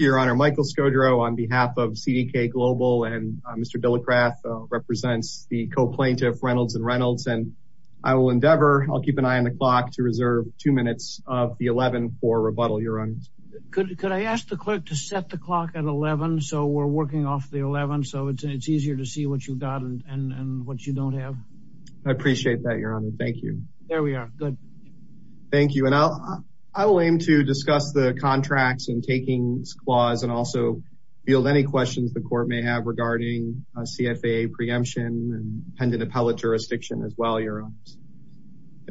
and Michael Scodro on behalf of CDK Global and Mr. Dillekrath represents the co-plaintiff Reynolds and Reynolds and I will endeavor, I'll keep an eye on the clock to reserve two minutes of the 11 for rebuttal your honor. Could I ask the clerk to set the clock at 11 so we're working off the 11 so it's easier to see what you've got and what you don't have. I appreciate that your honor thank you. There we are, good. Thank you and I'll I will aim to discuss the contracts and takings clause and also field any questions the court may have regarding a CFAA preemption and pendant appellate jurisdiction as well your honors.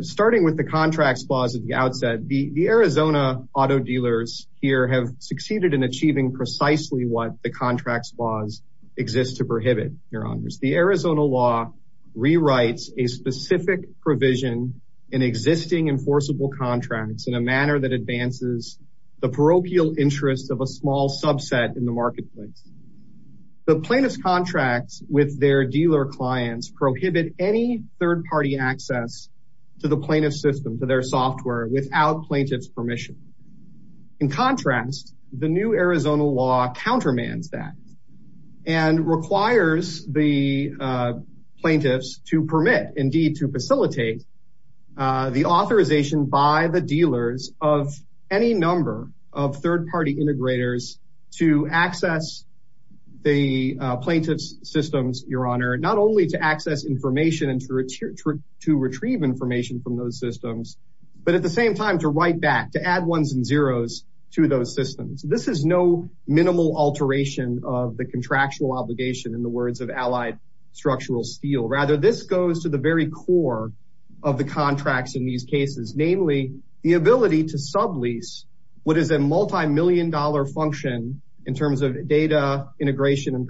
Starting with the contracts clause at the outset the the Arizona auto dealers here have succeeded in achieving precisely what the contracts clause exists to prohibit your honors. The Arizona law rewrites a specific provision in existing enforceable contracts in a manner that advances the parochial interest of a small subset in the marketplace. The plaintiff's contracts with their dealer clients prohibit any third-party access to the plaintiff's system to their software without plaintiff's permission. In contrast the new Arizona law countermands that and requires the plaintiffs to permit indeed to facilitate the authorization by the dealers of any number of third-party integrators to access the plaintiff's systems your honor not only to access information and to retrieve information from those systems but at the same time to write back to add ones and zeros to those systems. This is no minimal alteration of the contractual obligation in the words of allied structural steel rather this goes to the very core of the contracts in these cases namely the ability to sublease what is a multi-million dollar function in terms of data integration and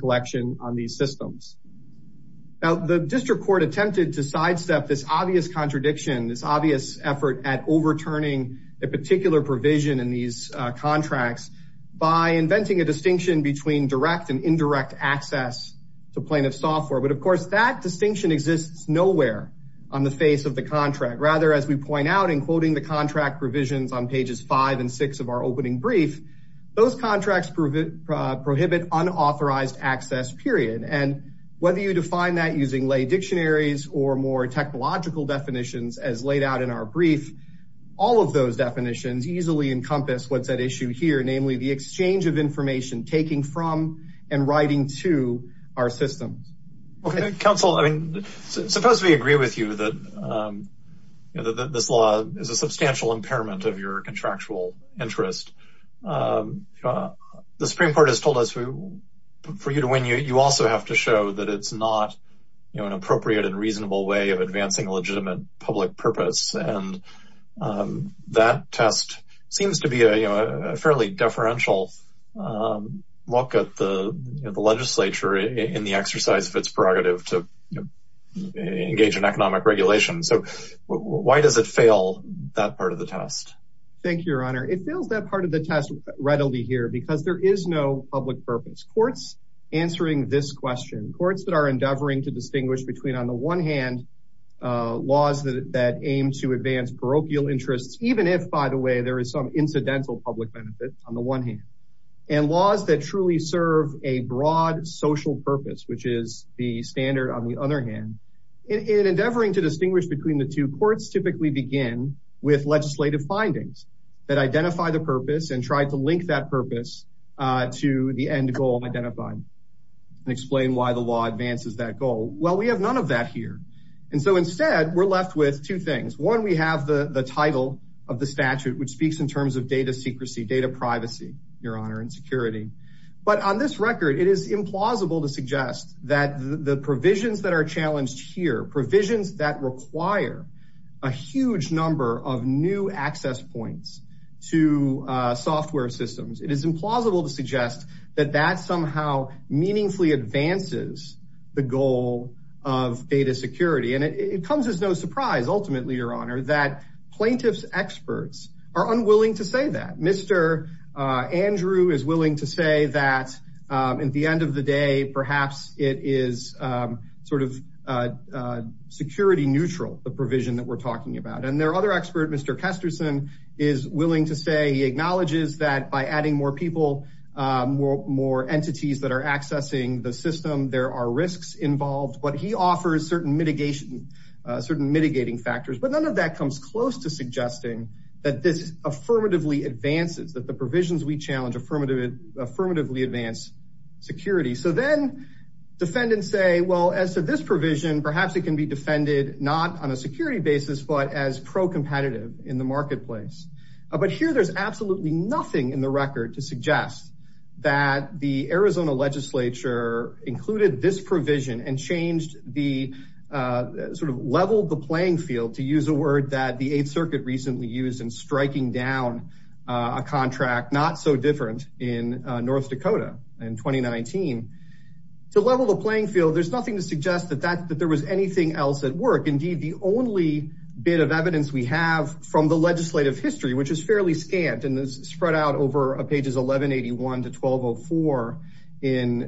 this obvious effort at overturning a particular provision in these contracts by inventing a distinction between direct and indirect access to plaintiff software but of course that distinction exists nowhere on the face of the contract rather as we point out in quoting the contract provisions on pages five and six of our opening brief those contracts prohibit unauthorized access period and whether you define that using lay dictionaries or more technological definitions as laid out in our brief all of those definitions easily encompass what's at issue here namely the exchange of information taking from and writing to our systems. Okay counsel I mean suppose we agree with you that this law is a substantial impairment of your contractual interest the supreme court has told us for you to win you also have to show that it's not you know an appropriate and reasonable way of advancing a legitimate public purpose and that test seems to be a fairly deferential look at the legislature in the exercise of its prerogative to engage in economic regulation so why does it fail that part of the test? Thank you your honor it courts answering this question courts that are endeavoring to distinguish between on the one hand laws that aim to advance parochial interests even if by the way there is some incidental public benefit on the one hand and laws that truly serve a broad social purpose which is the standard on the other hand in endeavoring to distinguish between the two courts typically begin with legislative findings that identify the purpose and try to link that purpose to the end goal identified and explain why the law advances that goal well we have none of that here and so instead we're left with two things one we have the the title of the statute which speaks in terms of data secrecy data privacy your honor and security but on this record it is implausible to suggest that the provisions that are challenged here provisions that require a huge number of new access points to software systems it is implausible to suggest that that somehow meaningfully advances the goal of data security and it comes as no surprise ultimately your honor that plaintiffs experts are unwilling to say that mr uh andrew is willing to say that at the end of the day perhaps it is sort of security neutral the provision that we're talking about and their other expert mr kesterson is willing to say he acknowledges that by adding more people more more entities that are accessing the system there are risks involved but he offers certain mitigation certain mitigating factors but none of that comes close to suggesting that this affirmatively advances that the provisions we challenge affirmative affirmatively advance security so then defendants say well as to this provision perhaps it can be defended not on a security basis but as pro-competitive in the marketplace but here there's absolutely nothing in the record to suggest that the arizona legislature included this provision and changed the uh sort of leveled the playing field to use a word that the eighth circuit recently used in striking down a contract not so different in north dakota in 2019 to level the playing field there's nothing to suggest that that that there was anything else at work indeed the only bit of evidence we have from the legislative history which is fairly scant and spread out over pages 1181 to 1204 in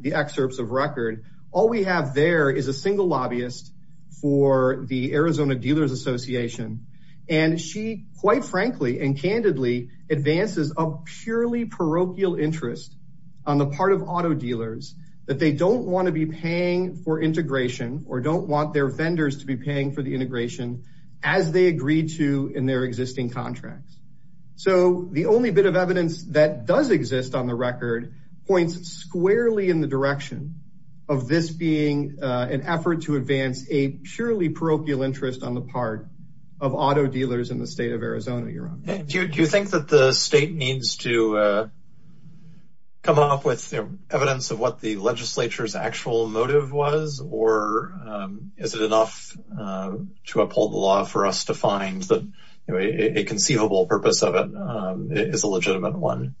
the excerpts of record all we have there is a single lobbyist for the arizona dealers association and she quite frankly and candidly advances a purely parochial interest on the part of auto dealers that they don't want to be paying for integration or don't want their vendors to be paying for the integration as they agreed to in their existing contracts so the only bit of evidence that does exist on the record points squarely in the direction of this being an effort to advance a purely parochial interest on the part of auto dealers in the state do you think that the state needs to come up with evidence of what the legislature's actual motive was or is it enough to uphold the law for us to find that a conceivable purpose of it is a legitimate one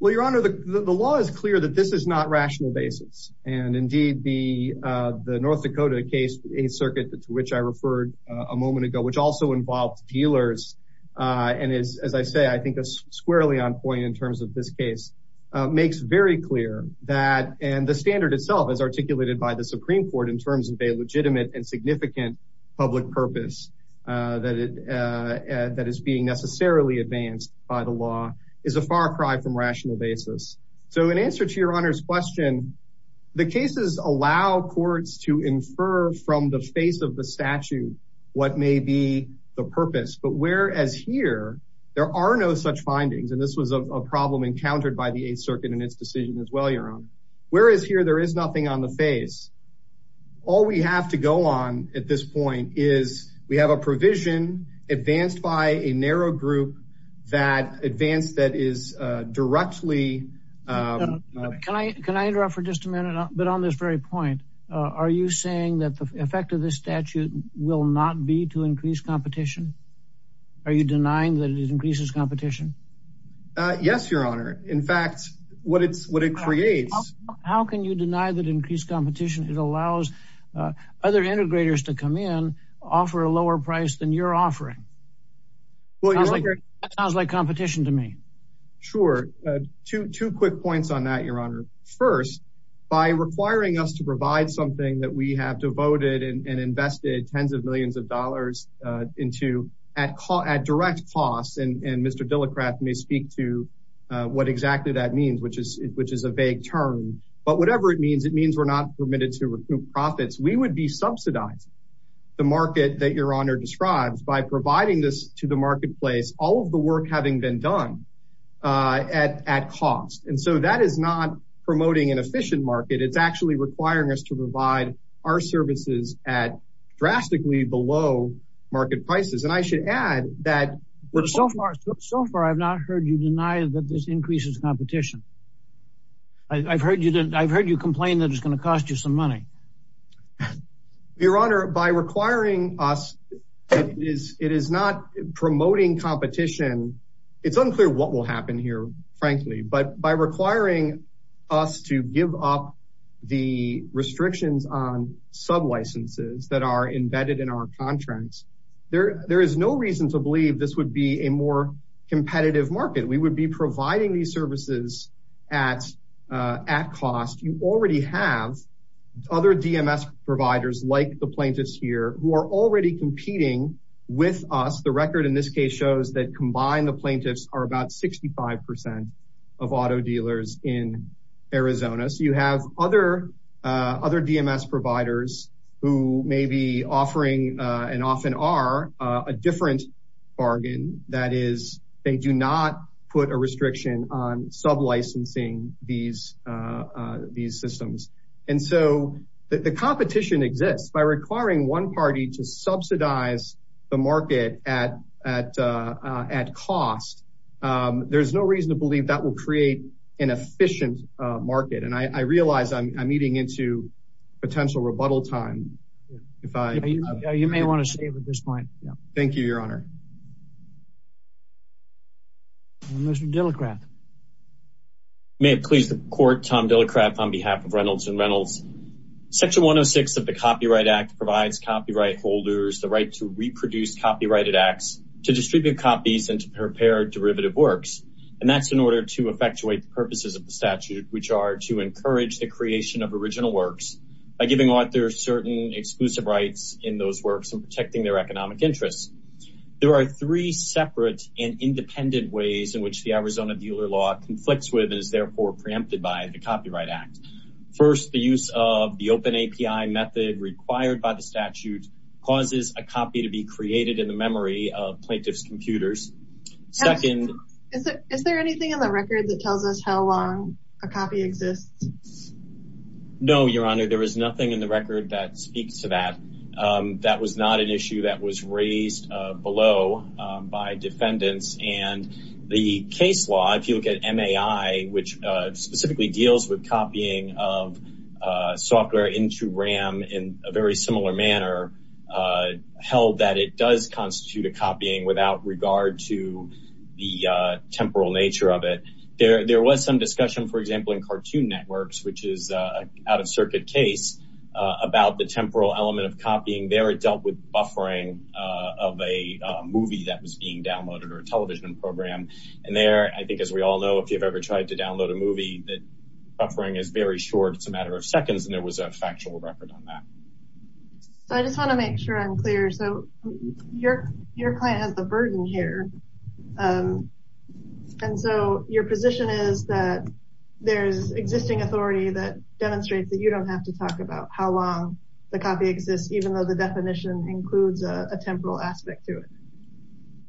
well your honor the the law is clear that this is not rational basis and indeed the uh the north dakota case eighth circuit to which i referred a moment ago which also involved dealers uh and is as i say i think that's squarely on point in terms of this case makes very clear that and the standard itself as articulated by the supreme court in terms of a legitimate and significant public purpose uh that it uh that is being necessarily advanced by the law is a far cry from rational basis so in answer to your honor's question the cases allow courts to the purpose but whereas here there are no such findings and this was a problem encountered by the eighth circuit and its decision as well your honor whereas here there is nothing on the face all we have to go on at this point is we have a provision advanced by a narrow group that advanced that is uh directly um can i can i interrupt for just a minute but on this very point uh are you saying that the effect of this statute will not be to increase competition are you denying that it increases competition uh yes your honor in fact what it's what it creates how can you deny that increased competition it allows uh other integrators to come in offer a lower price than your offering well it sounds like competition to me sure uh two two quick points on that your honor first by requiring us to provide something that we have devoted and invested tens of millions of dollars uh into at call at direct costs and and mr dillicraft may speak to uh what exactly that means which is which is a vague term but whatever it means it means we're not permitted to recoup profits we would be subsidized the market that your honor describes by providing this to the marketplace all of the work having been done uh at at cost and so that is not promoting an efficient market it's actually requiring us to provide our services at drastically below market prices and i should add that so far so far i've not heard you deny that this increases competition i've heard you didn't i've heard you complain that it's going to cost you some money your honor by requiring us it is it is not promoting competition it's unclear what will happen here frankly but by requiring us to give up the restrictions on sub licenses that are embedded in our contracts there there is no reason to believe this would be a more competitive market we would be providing these services at uh at cost you already have other dms providers like the plaintiffs here who are already competing with us the record in this case shows that combined the plaintiffs are about 65 percent of auto dealers in arizona so you have other uh other dms providers who may be offering uh and often are a different bargain that is they do not put a restriction on sub licensing these uh uh systems and so the competition exists by requiring one party to subsidize the market at at uh at cost um there's no reason to believe that will create an efficient market and i i realize i'm eating into potential rebuttal time if i you may want to save at this point yeah thank you your reynolds and reynolds section 106 of the copyright act provides copyright holders the right to reproduce copyrighted acts to distribute copies and to prepare derivative works and that's in order to effectuate the purposes of the statute which are to encourage the creation of original works by giving authors certain exclusive rights in those works and protecting their economic interests there are three separate and independent ways in which the arizona dealer law conflicts with and is therefore preempted by the copyright act first the use of the open api method required by the statute causes a copy to be created in the memory of plaintiff's computers second is there anything in the record that tells us how long a copy exists no your honor there is nothing in the record that speaks to that um that was not an issue that was raised below by defendants and the case law if you look at mai which uh specifically deals with copying of uh software into ram in a very similar manner uh held that it does constitute a copying without regard to the uh temporal nature of it there there was some discussion for example in cartoon networks which is a out-of-circuit case uh about the temporal element of copying there it dealt with buffering of a movie that was being downloaded or a television program and there i think as we all know if you've ever tried to download a movie that buffering is very short it's a matter of seconds and there was a factual record on that so i just want to make sure i'm clear so your your client has the burden here um and so your position is that there's existing authority that demonstrates that you don't have to talk about how long the copy exists even though the definition includes a temporal aspect to it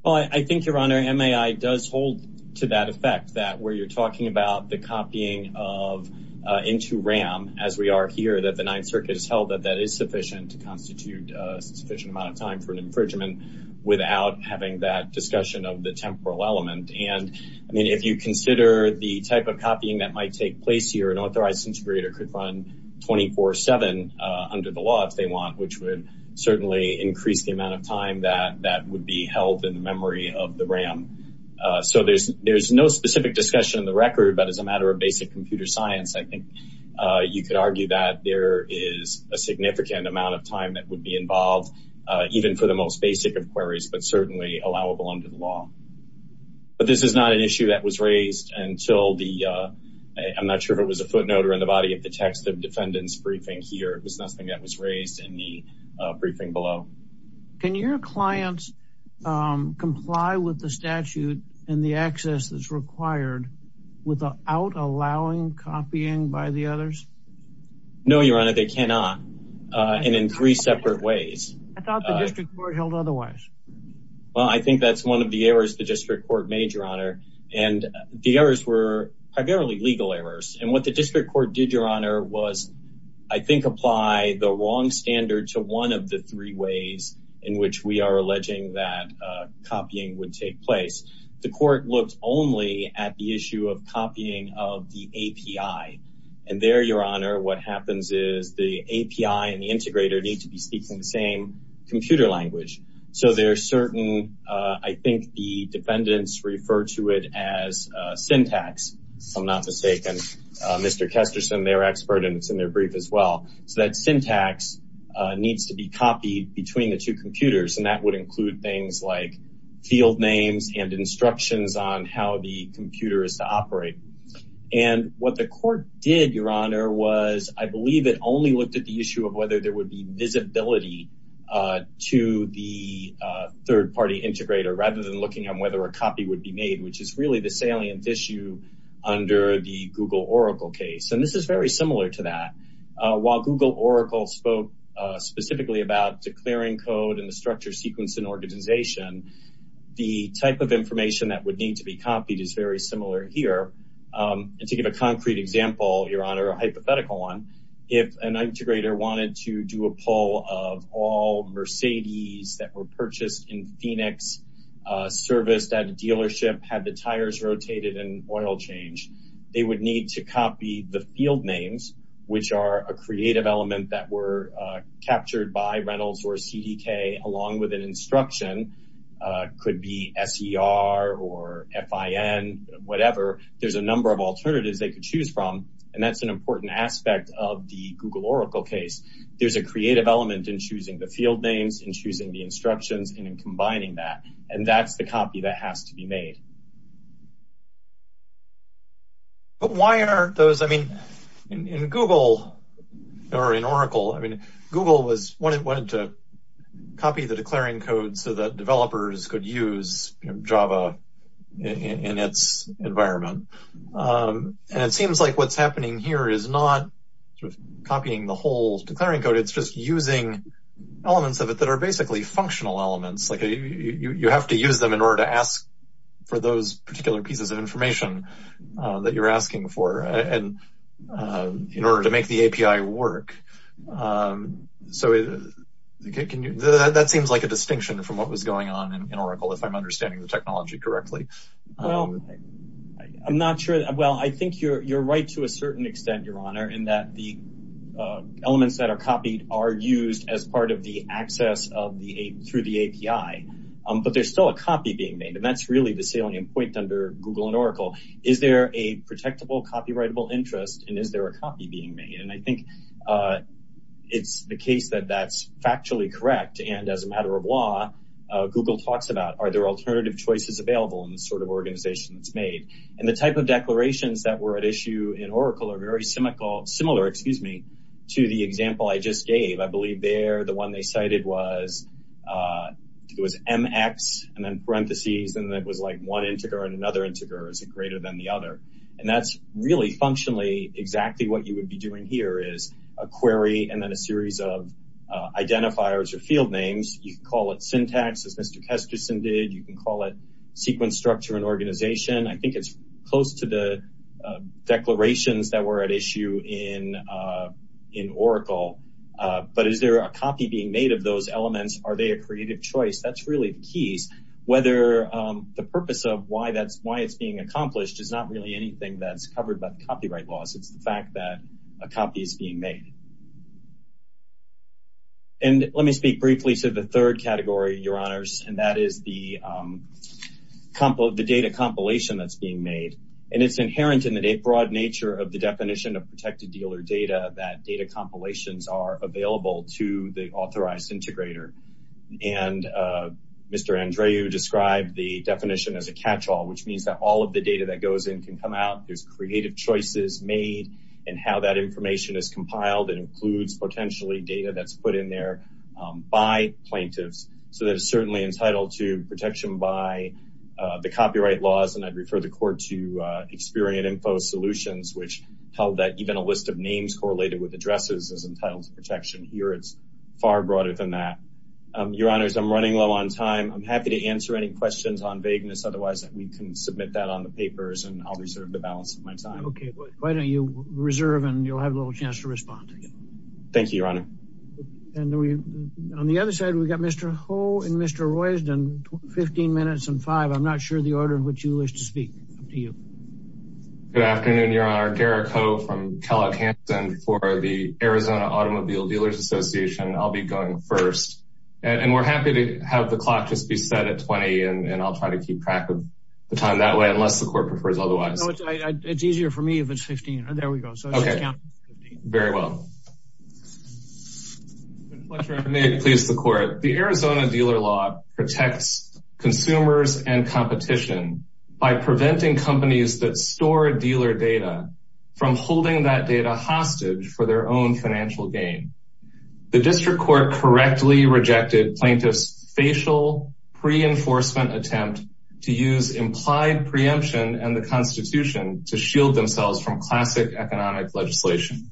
well i think your honor mai does hold to that effect that where you're talking about the copying of uh into ram as we are here that the ninth circuit is held that that is sufficient to constitute a sufficient amount of time for an infringement without having that discussion of the temporal element and i mean if you consider the type of copying that might take place here an authorized contributor could run 24 7 uh under the law if they want which would certainly increase the amount of time that that would be held in the memory of the ram so there's there's no specific discussion in the record but as a matter of basic computer science i think uh you could argue that there is a significant amount of time that would be involved even for the most basic of queries but certainly allowable under the law but this is not an issue that was raised until the uh i'm not sure if it was a footnote or in here it was nothing that was raised in the briefing below can your clients um comply with the statute and the access that's required without allowing copying by the others no your honor they cannot uh and in three separate ways i thought the district court held otherwise well i think that's one of the errors the district court made your honor and the errors were primarily legal errors and what the district court did your honor was i think apply the wrong standard to one of the three ways in which we are alleging that uh copying would take place the court looked only at the issue of copying of the api and there your honor what happens is the api and the integrator need to be speaking the same computer language so there's certain uh i think the defendants refer to it as syntax if i'm not mistaken mr kesterson they're expert and it's in their brief as well so that syntax needs to be copied between the two computers and that would include things like field names and instructions on how the computer is to operate and what the court did your honor was i believe it only looked at the issue of whether there would be visibility uh to the third-party integrator rather than looking on whether a copy would be made which is really the salient issue under the google oracle case and this is very similar to that uh while google oracle spoke uh specifically about declaring code and the structure sequence and organization the type of information that would need to be copied is very similar here um and to give a concrete example your honor a hypothetical one if an integrator wanted to do a poll of all mercedes that were purchased in phoenix uh serviced at a dealership had the tires rotated in oil change they would need to copy the field names which are a creative element that were captured by rentals or cdk along with an instruction could be ser or fin whatever there's a number of alternatives they could choose from and that's an important aspect of the google oracle case there's a creative element in choosing the field names and choosing the instructions and combining that and that's the copy that has to be made but why aren't those i mean in google or in oracle i mean google was wanted to copy the declaring code so that developers could use java in its environment um and it seems like what's happening here is not sort of copying the whole declaring code it's just using elements of it that are basically functional elements like you have to use them in order to ask for those particular pieces of information that you're asking for and in order to make the api work um so can you that seems like a distinction from what was going on in oracle if i'm understanding the technology correctly well i'm not sure well i think you're you're right to a certain extent your honor in that the elements that are copied are used as part of the access of the through the api but there's still a copy being made and that's really the salient point under google and oracle is there a protectable copyrightable interest and is there a copy being made and i think uh it's the case that that's factually correct and as a matter of law google talks about are there alternative choices available in the sort of organization that's made and the type of declarations that were at issue in oracle are very similar similar excuse me to the example i just gave i believe there the one they cited was uh it was mx and then parentheses and it was like one integer and another integer is it greater than the other and that's really functionally exactly what you would be doing here is a query and then a series of uh identifiers or field names you can call it syntax as mr kesterson did you can call it sequence structure and organization i think it's close to the declarations that were at issue in uh in oracle uh but is there a copy being made of those elements are they a creative choice that's really the keys whether um the purpose of why that's why it's being accomplished is not really anything that's covered by the copyright laws it's the fact that a copy is being made um and let me speak briefly to the third category your honors and that is the um compo the data compilation that's being made and it's inherent in the broad nature of the definition of protected dealer data that data compilations are available to the authorized integrator and uh mr andrew described the definition as a catch-all which means that all of the data that goes in can come out there's creative choices made and how that information is compiled it includes potentially data that's put in there um by plaintiffs so that it's certainly entitled to protection by uh the copyright laws and i'd refer the court to uh experience info solutions which held that even a list of names correlated with addresses is entitled to protection here it's far broader than that um your honors i'm running low on time i'm happy to answer any questions on vagueness otherwise we can submit that on the papers and i'll reserve the balance of okay why don't you reserve and you'll have a little chance to respond thank you your honor and we on the other side we've got mr ho and mr roysdon 15 minutes and five i'm not sure the order in which you wish to speak up to you good afternoon your honor derrick ho from callaghanson for the arizona automobile dealers association i'll be going first and we're happy to have the clock just be set at 20 and i'll try to keep track of the time that way unless the court prefers otherwise it's easier for me if it's 15 there we go so okay count 15 very well please the court the arizona dealer law protects consumers and competition by preventing companies that store dealer data from holding that data hostage for their own financial gain the district court correctly rejected plaintiffs facial pre-enforcement attempt to use implied preemption and the constitution to shield themselves from classic economic legislation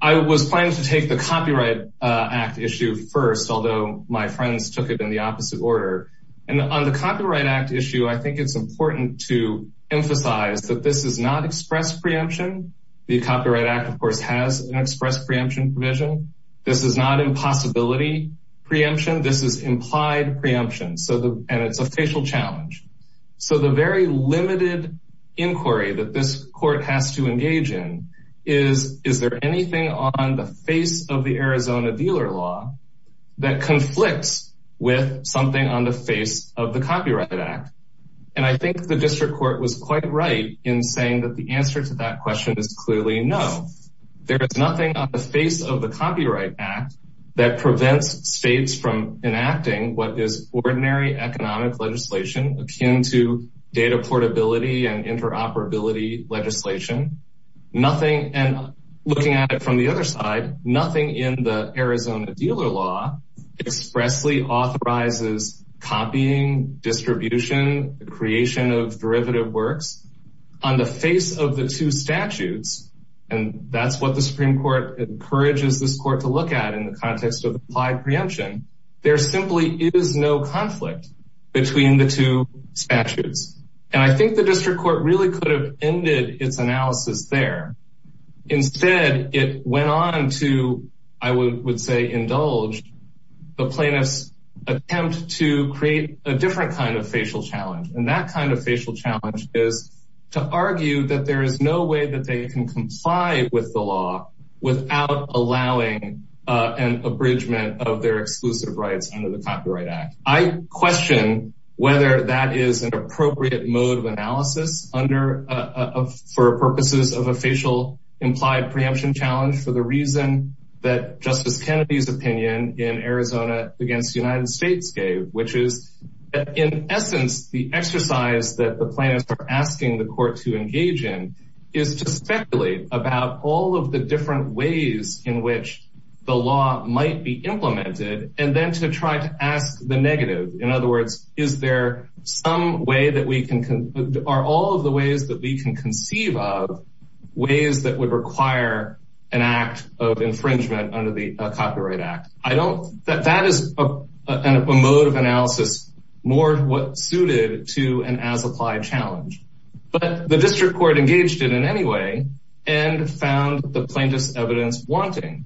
i was planning to take the copyright act issue first although my friends took it in the opposite order and on the copyright act issue i think it's important to emphasize that this is not express preemption the copyright act of course has an express preemption provision this is not impossibility preemption this is implied preemption so the and it's a facial challenge so the very limited inquiry that this court has to engage in is is there anything on the face of the arizona dealer law that conflicts with something on the face of the copyright act and i think the district court was quite right in saying that the answer to that question is clearly no there is nothing on the face of the copyright act that prevents states from enacting what is ordinary economic legislation akin to data portability and interoperability legislation nothing and looking at it from the other side nothing in the arizona dealer law expressly authorizes copying distribution creation of derivative works on the face of the two statutes and that's what the supreme court encourages this court to look at in the context of implied preemption there simply is no conflict between the two statutes and i think the district court really could have ended its analysis there instead it went on to i would say indulge the plaintiffs attempt to create a different kind of facial challenge and that kind of facial challenge is to argue that there is no way that they can comply with the law without allowing an abridgment of their exclusive rights under the copyright act i question whether that is an appropriate mode of analysis under uh for purposes of a facial implied preemption challenge for the reason that justice kennedy's opinion in arizona against the united states gave which is in essence the exercise that the plaintiffs are asking the court to engage in is to speculate about all of the different ways in which the law might be implemented and then to try to ask the negative in other words is there some way that we can are all of the ways that we can conceive of ways that would require an act of infringement under the copyright act i don't that that is a mode of analysis more what suited to an as applied challenge but the district court engaged it in any way and found the plaintiff's evidence wanting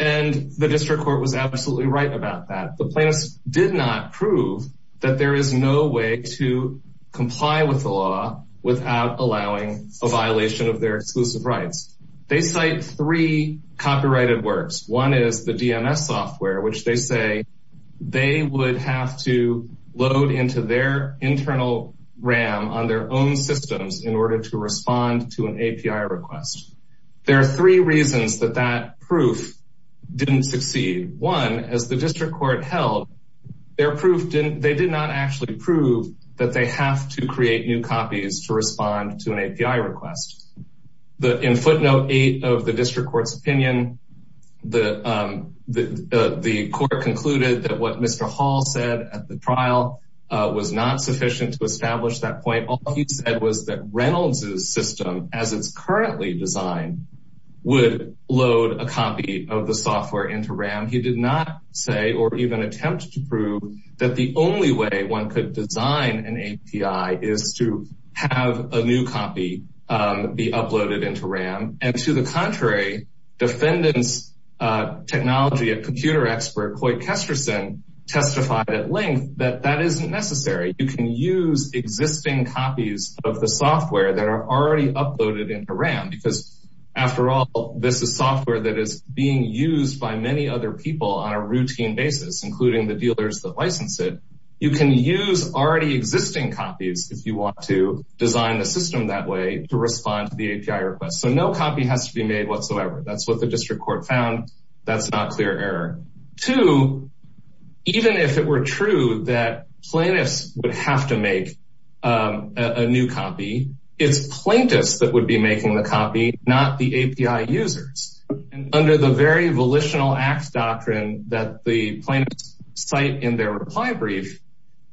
and the district court was absolutely right about that the plaintiffs did not prove that there is no way to comply with the law without allowing a violation of their exclusive rights they cite three copyrighted works one is dms software which they say they would have to load into their internal ram on their own systems in order to respond to an api request there are three reasons that that proof didn't succeed one as the district court held their proof didn't they did not actually prove that they have to create new copies to respond to an api request the in footnote eight of the district court's opinion the um the the court concluded that what mr hall said at the trial uh was not sufficient to establish that point all he said was that reynolds's system as it's currently designed would load a copy of the software into ram he did not say or even attempt to prove that the only way one could design an api is to have a new copy um be uploaded into ram and to the contrary defendants uh technology and computer expert coy kesterson testified at length that that isn't necessary you can use existing copies of the software that are already uploaded into ram because after all this is software that is being used by many other people on a routine basis including the dealers that license it you can use already existing copies if you want to design the that's what the district court found that's not clear error two even if it were true that plaintiffs would have to make a new copy it's plaintiffs that would be making the copy not the api users under the very volitional acts doctrine that the plaintiffs cite in their reply brief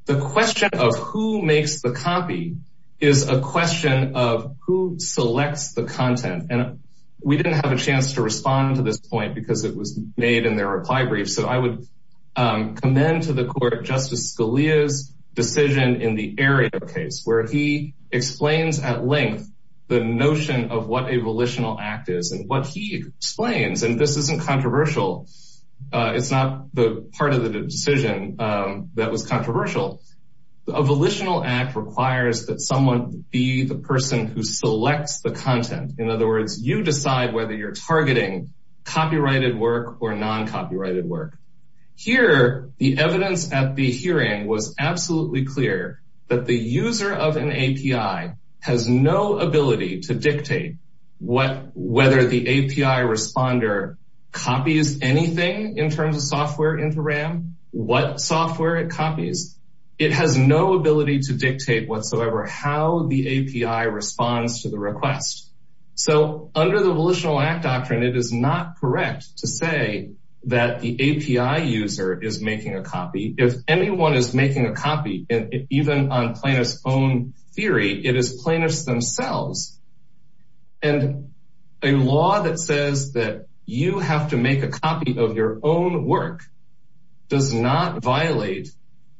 the question of who makes the copy is a question of who selects the content and we didn't have a chance to respond to this point because it was made in their reply brief so i would commend to the court justice scalia's decision in the area case where he explains at length the notion of what a volitional act is and what he explains and this isn't controversial uh it's not the part of the decision that was controversial the volitional act requires that someone be the person who selects the content in other words you decide whether you're targeting copyrighted work or non-copyrighted work here the evidence at the hearing was absolutely clear that the user of an api has no ability to dictate what whether the api responder copies anything in terms of software into ram what software it copies it has no ability to dictate whatsoever how the api responds to the request so under the volitional act doctrine it is not correct to say that the api user is making a copy if anyone is making a copy and even on plaintiff's own theory it is plaintiffs themselves and a law that says that you have to make a copy of your own work does not violate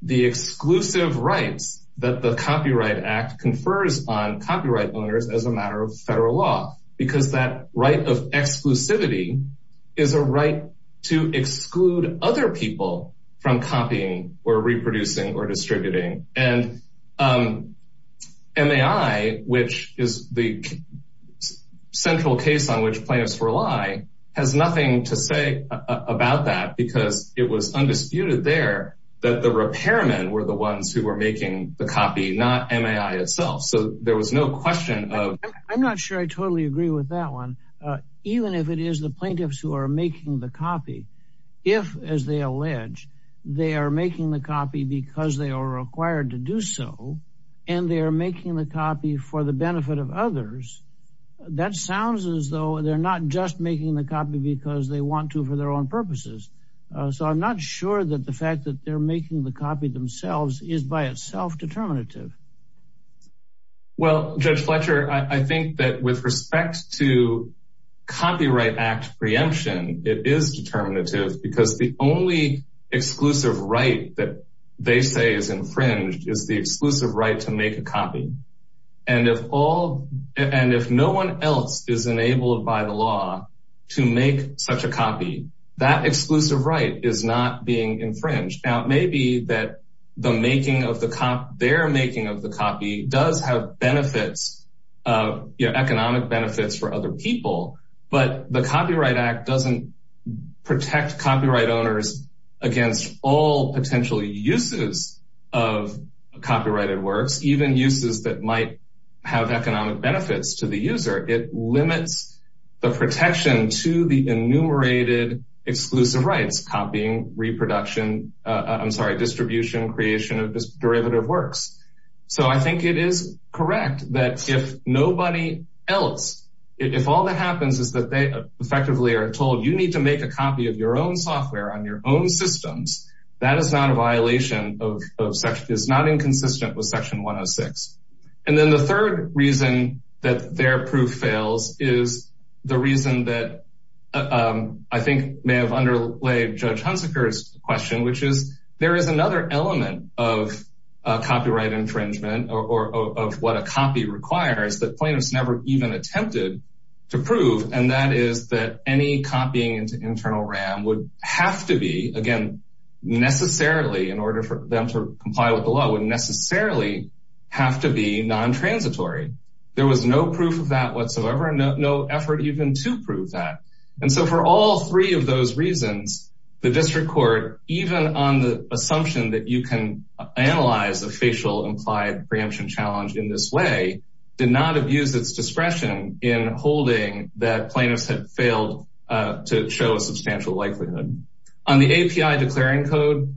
the exclusive rights that the copyright act confers on copyright owners as a matter of federal law because that right of exclusivity is a right to exclude other people from copying or reproducing or distributing and um mai which is the central case on which plaintiffs rely has nothing to say about that because it was undisputed there that the repairmen were the ones who were making the copy not mai itself so there was no question of i'm not sure i totally agree with that one uh even if it is the plaintiffs who are making the copy if as they allege they are making the copy because they are required to do so and they are making the copy for the benefit of others that sounds as though they're not just making the copy because they want to for their own purposes so i'm not sure that the fact that they're making the copy themselves is by itself determinative well judge fletcher i think that with respect to copyright act preemption it is determinative because the only exclusive right that they say is infringed is the exclusive right to make a copy and if all and if no one else is enabled by the law to make such a copy that exclusive right is not being infringed now it may be that the making of the cop their making of the copy does have benefits of economic benefits for other people but the copyright act doesn't protect copyright owners against all potential uses of copyrighted works even uses that might have economic benefits to the user it limits the protection to the enumerated exclusive rights copying reproduction i'm sorry distribution creation of derivative works so i think it is correct that if nobody else if all that happens is that they effectively are told you need to make a copy of your own software on your own systems that is not a violation of such is not inconsistent with section 106 and then the third reason that their proof fails is the reason that i think may have judge hunsaker's question which is there is another element of copyright infringement or of what a copy requires that plaintiffs never even attempted to prove and that is that any copying into internal ram would have to be again necessarily in order for them to comply with the law would necessarily have to be non-transitory there was no proof of that whatsoever no effort even to prove that and so for all three of those reasons the district court even on the assumption that you can analyze the facial implied preemption challenge in this way did not abuse its discretion in holding that plaintiffs had failed to show a substantial likelihood on the api declaring code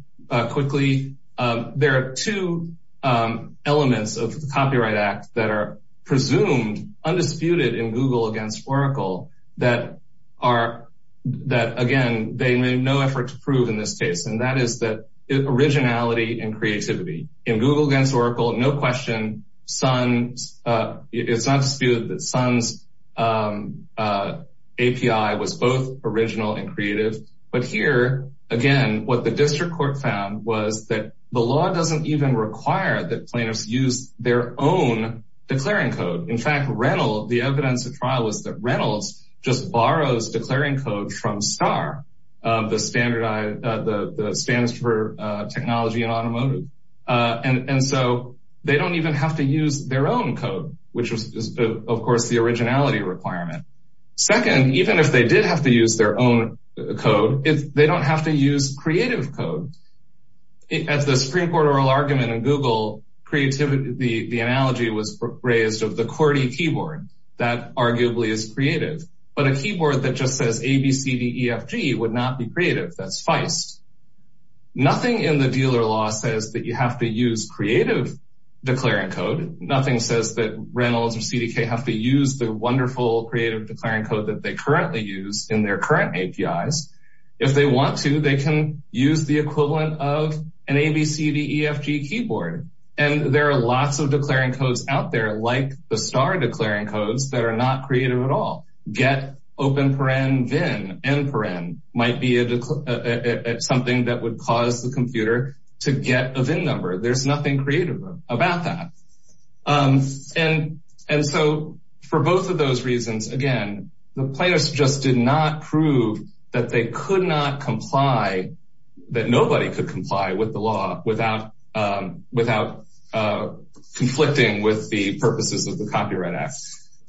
quickly there are two elements of the copyright act that are presumed undisputed in google against oracle that are that again they made no effort to prove in this case and that is that originality and creativity in google against oracle no question sun uh it's not disputed that sun's um uh api was both original and creative but here again what the district court found was that the law doesn't even require that plaintiffs use their own declaring code in fact rental the evidence of rentals just borrows declaring code from star uh the standardized uh the the stands for uh technology and automotive uh and and so they don't even have to use their own code which is of course the originality requirement second even if they did have to use their own code if they don't have to use creative code as the Supreme Court oral argument in google creativity the the analogy was raised of the QWERTY keyboard that arguably is creative but a keyboard that just says abcdefg would not be creative that's feist nothing in the dealer law says that you have to use creative declaring code nothing says that reynolds or cdk have to use the wonderful creative declaring code that they currently use in their current apis if they want to they can use the equivalent of an abcdefg keyboard and there are lots of declaring codes out there like the star declaring codes that are not creative at all get open paren vin and paren might be a something that would cause the computer to get a vin number there's nothing creative about that um and and so for both of those reasons again the plaintiffs just did not prove that they could not comply that nobody could comply with the law without um without uh conflicting with the purposes of the copyright act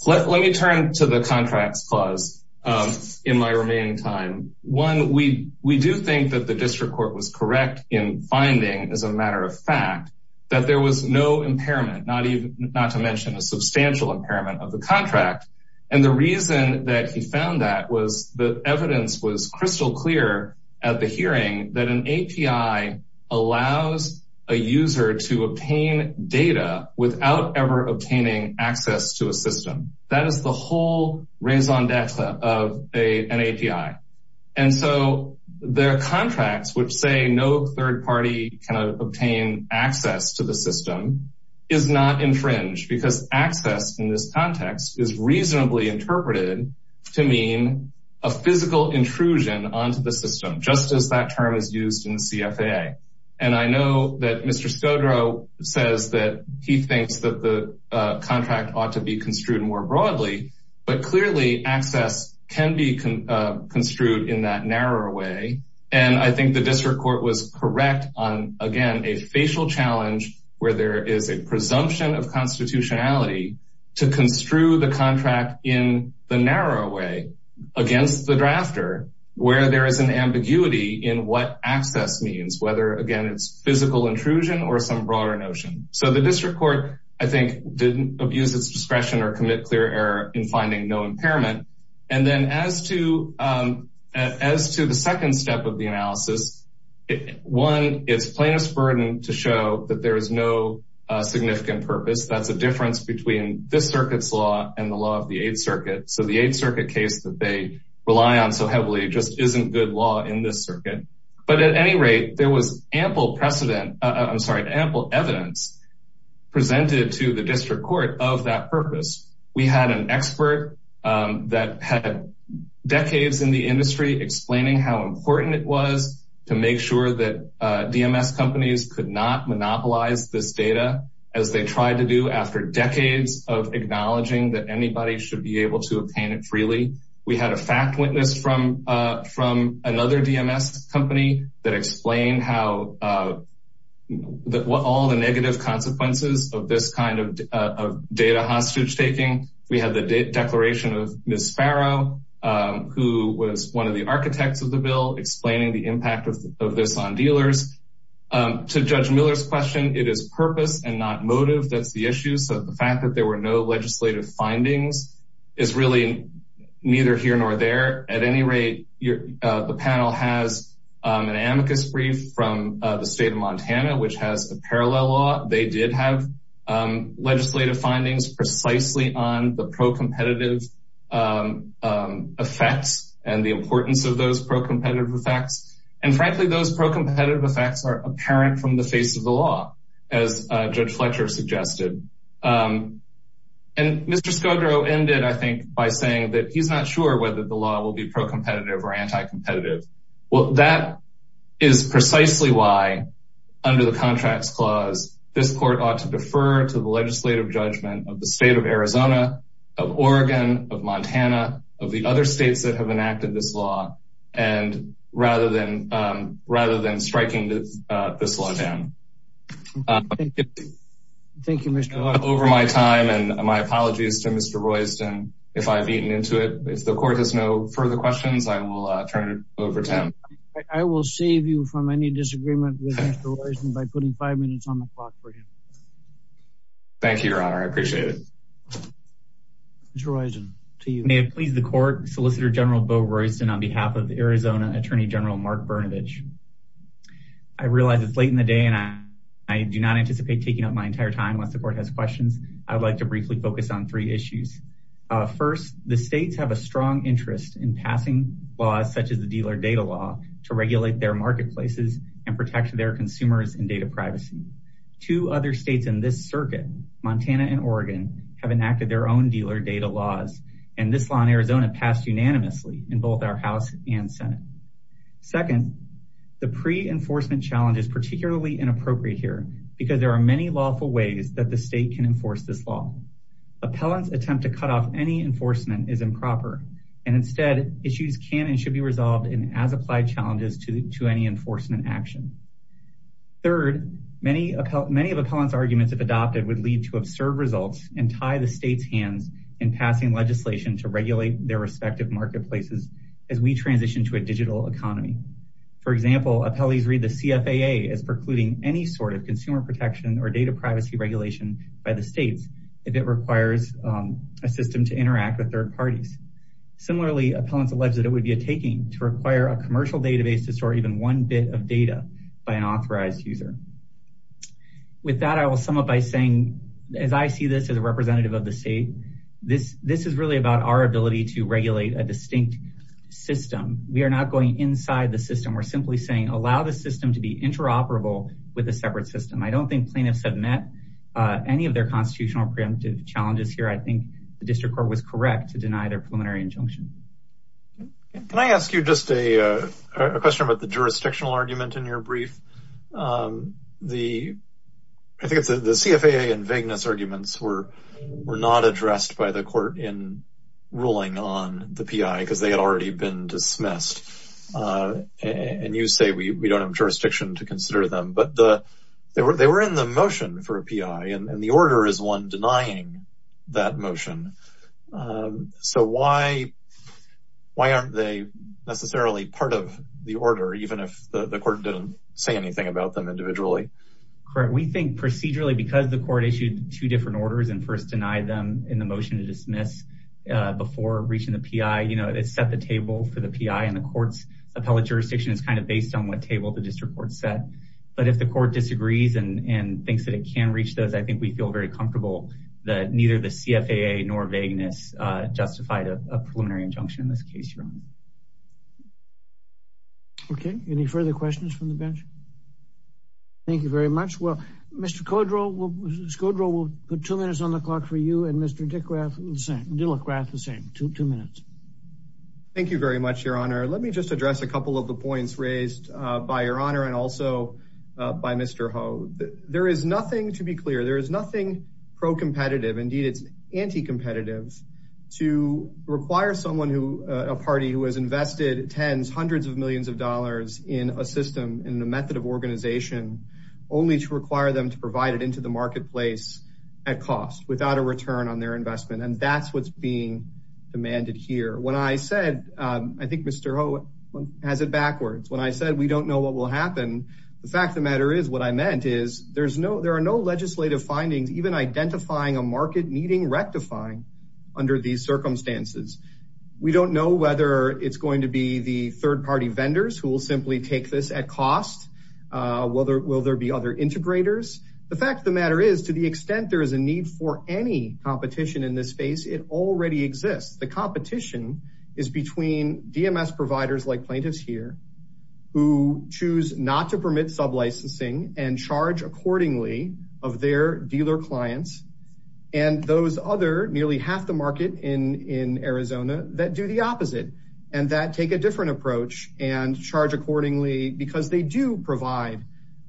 let me turn to the contracts clause um in my remaining time one we we do think that the district court was correct in finding as a matter of fact that there was no impairment not even not to mention a substantial impairment of the contract and the reason that he found that was the evidence was crystal clear at the hearing that an api allows a user to obtain data without ever obtaining access to a system that is the whole raison d'etre of a an api and so their contracts which say no third party cannot obtain access to the system is not infringed because access in this context is reasonably interpreted to mean a physical intrusion onto the system just as that term is used in cfa and i know that mr sodro says that he thinks that the contract ought to be construed more broadly but clearly access can be construed in that narrower way and i think the district court was correct on again a facial challenge where there is a presumption of constitutionality to construe the contract in the narrow way against the drafter where there is an ambiguity in what access means whether again it's physical intrusion or some broader notion so the district court i think didn't abuse its discretion or commit clear error in finding no impairment and then as to um as to the second step of the analysis one it's plaintiff's burden to show that there is no uh significant purpose that's a difference between this circuit's law and the law of the eighth circuit so the eighth circuit case that they rely on so heavily just isn't good law in this circuit but at any rate there was ample precedent i'm sorry ample evidence presented to the district court of that purpose we had an expert that had decades in the industry explaining how important it was to make sure that dms companies could not monopolize this data as they tried to do after decades of acknowledging that anybody should be able to obtain it freely we had a fact witness from uh from another dms company that explained how uh that what all the negative consequences of this kind of data hostage taking we had the declaration of ms farrow who was one of the architects of the bill explaining the impact of this on dealers to judge miller's question it is purpose and not motive that's the issue so the fact that there were no legislative findings is really neither here nor there at any rate the panel has an amicus brief from the state of legislative findings precisely on the pro-competitive effects and the importance of those pro-competitive effects and frankly those pro-competitive effects are apparent from the face of the law as judge fletcher suggested and mr scodro ended i think by saying that he's not sure whether the law will be pro-competitive or anti-competitive well that is precisely why under the contracts clause this court ought to defer to the legislative judgment of the state of arizona of oregon of montana of the other states that have enacted this law and rather than um rather than striking this uh this law down thank you mr over my time and my apologies to mr royston if i've eaten into it if the court has no further questions i will turn it over to him i will save you from any disagreement by putting five minutes on the clock for him thank you your honor i appreciate it mr royston to you may it please the court solicitor general bo royston on behalf of arizona attorney general mark bernovich i realize it's late in the day and i i do not anticipate taking up my entire time once the court has questions i'd like to briefly focus on three issues uh first the states have a strong interest in passing laws such as the dealer data law to regulate their marketplaces and protect their consumers and data privacy two other states in this circuit montana and oregon have enacted their own dealer data laws and this law in arizona passed unanimously in both our house and senate second the pre-enforcement challenge is particularly inappropriate here because there are many lawful ways that the state can enforce this law appellants attempt to cut off any enforcement is improper and instead issues can and should be resolved in as applied challenges to to any enforcement action third many many of appellants arguments if adopted would lead to absurd results and tie the state's hands in passing legislation to regulate their respective marketplaces as we transition to a digital economy for example appellees read the cfaa as precluding any sort of consumer protection or data privacy regulation by the states if it requires um a system to interact with third parties similarly appellants allege that it would be a taking to require a commercial database to store even one bit of data by an authorized user with that i will sum up by saying as i see this as a representative of the state this this is really about our ability to regulate a distinct system we are not going inside the system we're simply saying allow the system to be interoperable with a separate system i don't think plaintiffs have met uh any of their constitutional preemptive challenges here i think the district court was correct to deny their preliminary injunction can i ask you just a uh a question about the jurisdictional argument in your brief um the i think it's the cfaa and vagueness arguments were were not addressed by the court in ruling on the pi because they had already been dismissed uh and you say we we don't have jurisdiction to consider them but the they were they were in the motion for a pi and the order is one denying that motion um so why why aren't they necessarily part of the order even if the court didn't say anything about them individually correct we think procedurally because the court issued two different orders and first denied them in the motion to dismiss uh before reaching the pi you know it's set the table for the pi and the court's appellate jurisdiction is kind of based on what table the district court said but if the court disagrees and and thinks that it can reach those i think we feel very comfortable that neither the cfaa nor vagueness uh justified a preliminary injunction in this case your honor okay any further questions from the bench thank you very much well Mr. Codrell will put two minutes on the clock for you and Mr. Dickrath the same Dillagrath the same two two minutes thank you very much your honor let me just address a couple of the points raised uh by your honor and also uh by Mr. Ho there is nothing to be clear there is nothing pro-competitive indeed it's anti-competitive to require someone who a party who has invested tens hundreds of millions of dollars in a system in the method of organization only to require them to provide it into the marketplace at cost without a return on their investment and that's what's being demanded here when i said um i think Mr. Ho has it backwards when i said we don't know what will happen the fact of the matter is what i meant is there's no there are no legislative findings even identifying a market meeting rectifying under these circumstances we don't know whether it's going to be the third-party vendors who will simply take this at cost uh whether will there be other integrators the fact of the matter is to the extent there is a need for any competition in this space it already exists the competition is between dms providers like plaintiffs here who choose not to permit sub-licensing and charge accordingly of their dealer clients and those other nearly half the market in in arizona that do the opposite and that take a different approach and charge accordingly because they do provide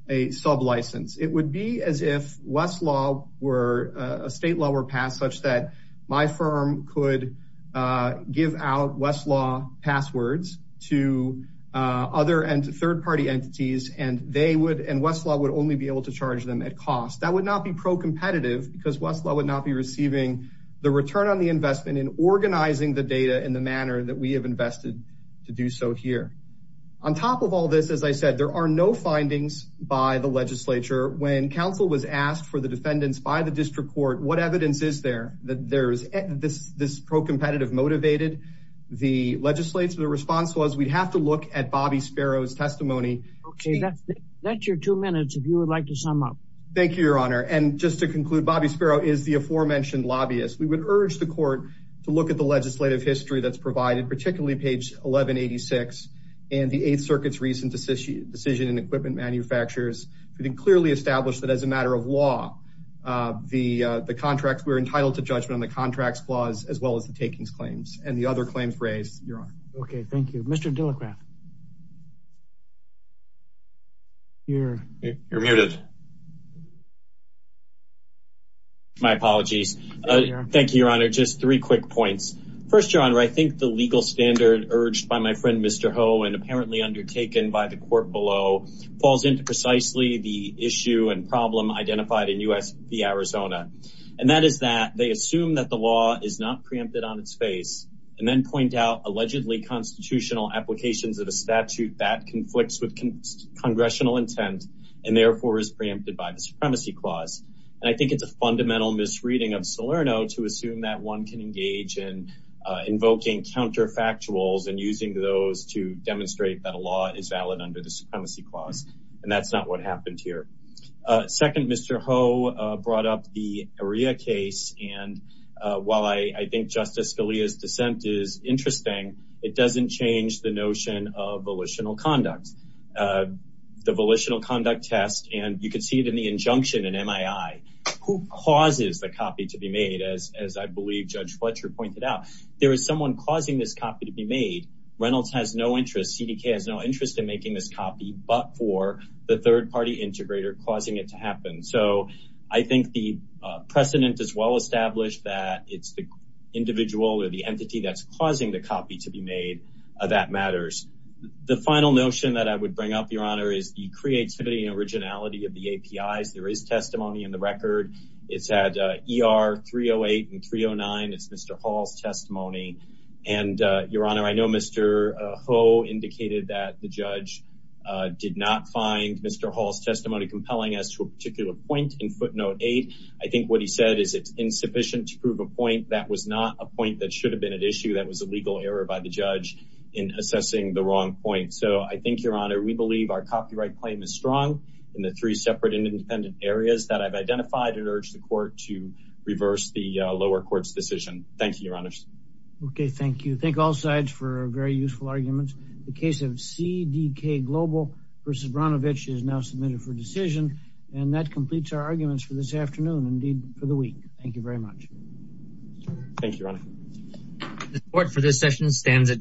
a sub-license it would be as if westlaw were a state law were passed such that my firm could uh give out westlaw passwords to uh other and third-party entities and they would and westlaw would only be able to charge them at cost that would not be pro-competitive because westlaw would not be receiving the return on the investment in organizing the data in the manner that we have invested to do so here on top of all this as i said there are no findings by the legislature when council was asked for the defendants by the district court what evidence is there that there's this this pro-competitive motivated the legislator the response was we'd have to look at bobby sparrow's testimony okay that's that's your two minutes if you would like to sum up thank you your honor and just to conclude bobby sparrow is the aforementioned lobbyist we would urge the court to look at the legislative history that's provided particularly page 1186 and the eighth circuit's recent decision decision and equipment manufacturers we can clearly establish that as a matter of law uh the uh the contracts we're entitled to judgment on the contracts clause as well as the takings claims and the other claims raised your honor okay thank you mr dillicraft you're you're muted my apologies uh thank you your honor just three quick points first your honor i think the legal standard urged by my friend mr ho and apparently undertaken by the court below falls into precisely the issue and problem identified in us v arizona and that is that they assume that the law is not on its face and then point out allegedly constitutional applications of a statute that conflicts with congressional intent and therefore is preempted by the supremacy clause and i think it's a fundamental misreading of salerno to assume that one can engage in uh invoking counterfactuals and using those to demonstrate that a law is valid under the supremacy clause and that's not what dissent is interesting it doesn't change the notion of volitional conduct uh the volitional conduct test and you can see it in the injunction in mii who causes the copy to be made as as i believe judge fletcher pointed out there is someone causing this copy to be made reynolds has no interest cdk has no interest in making this copy but for the third party integrator causing it to happen so i think the precedent is well established that it's the individual or the entity that's causing the copy to be made that matters the final notion that i would bring up your honor is the creativity and originality of the apis there is testimony in the record it's at er 308 and 309 it's mr hall's testimony and your honor i know mr ho indicated that the judge uh did not find mr hall's testimony compelling as to a particular point in footnote eight i think what he said is it's insufficient to prove a point that was not a point that should have been at issue that was a legal error by the judge in assessing the wrong point so i think your honor we believe our copyright claim is strong in the three separate and independent areas that i've identified and urged the court to reverse the lower court's decision thank you your honors okay thank you thank all sides for very useful arguments the case of cdk global versus branovich is now submitted for decision and that completes our arguments for this afternoon indeed for the week thank you very much thank you ron the support for this session stands adjourned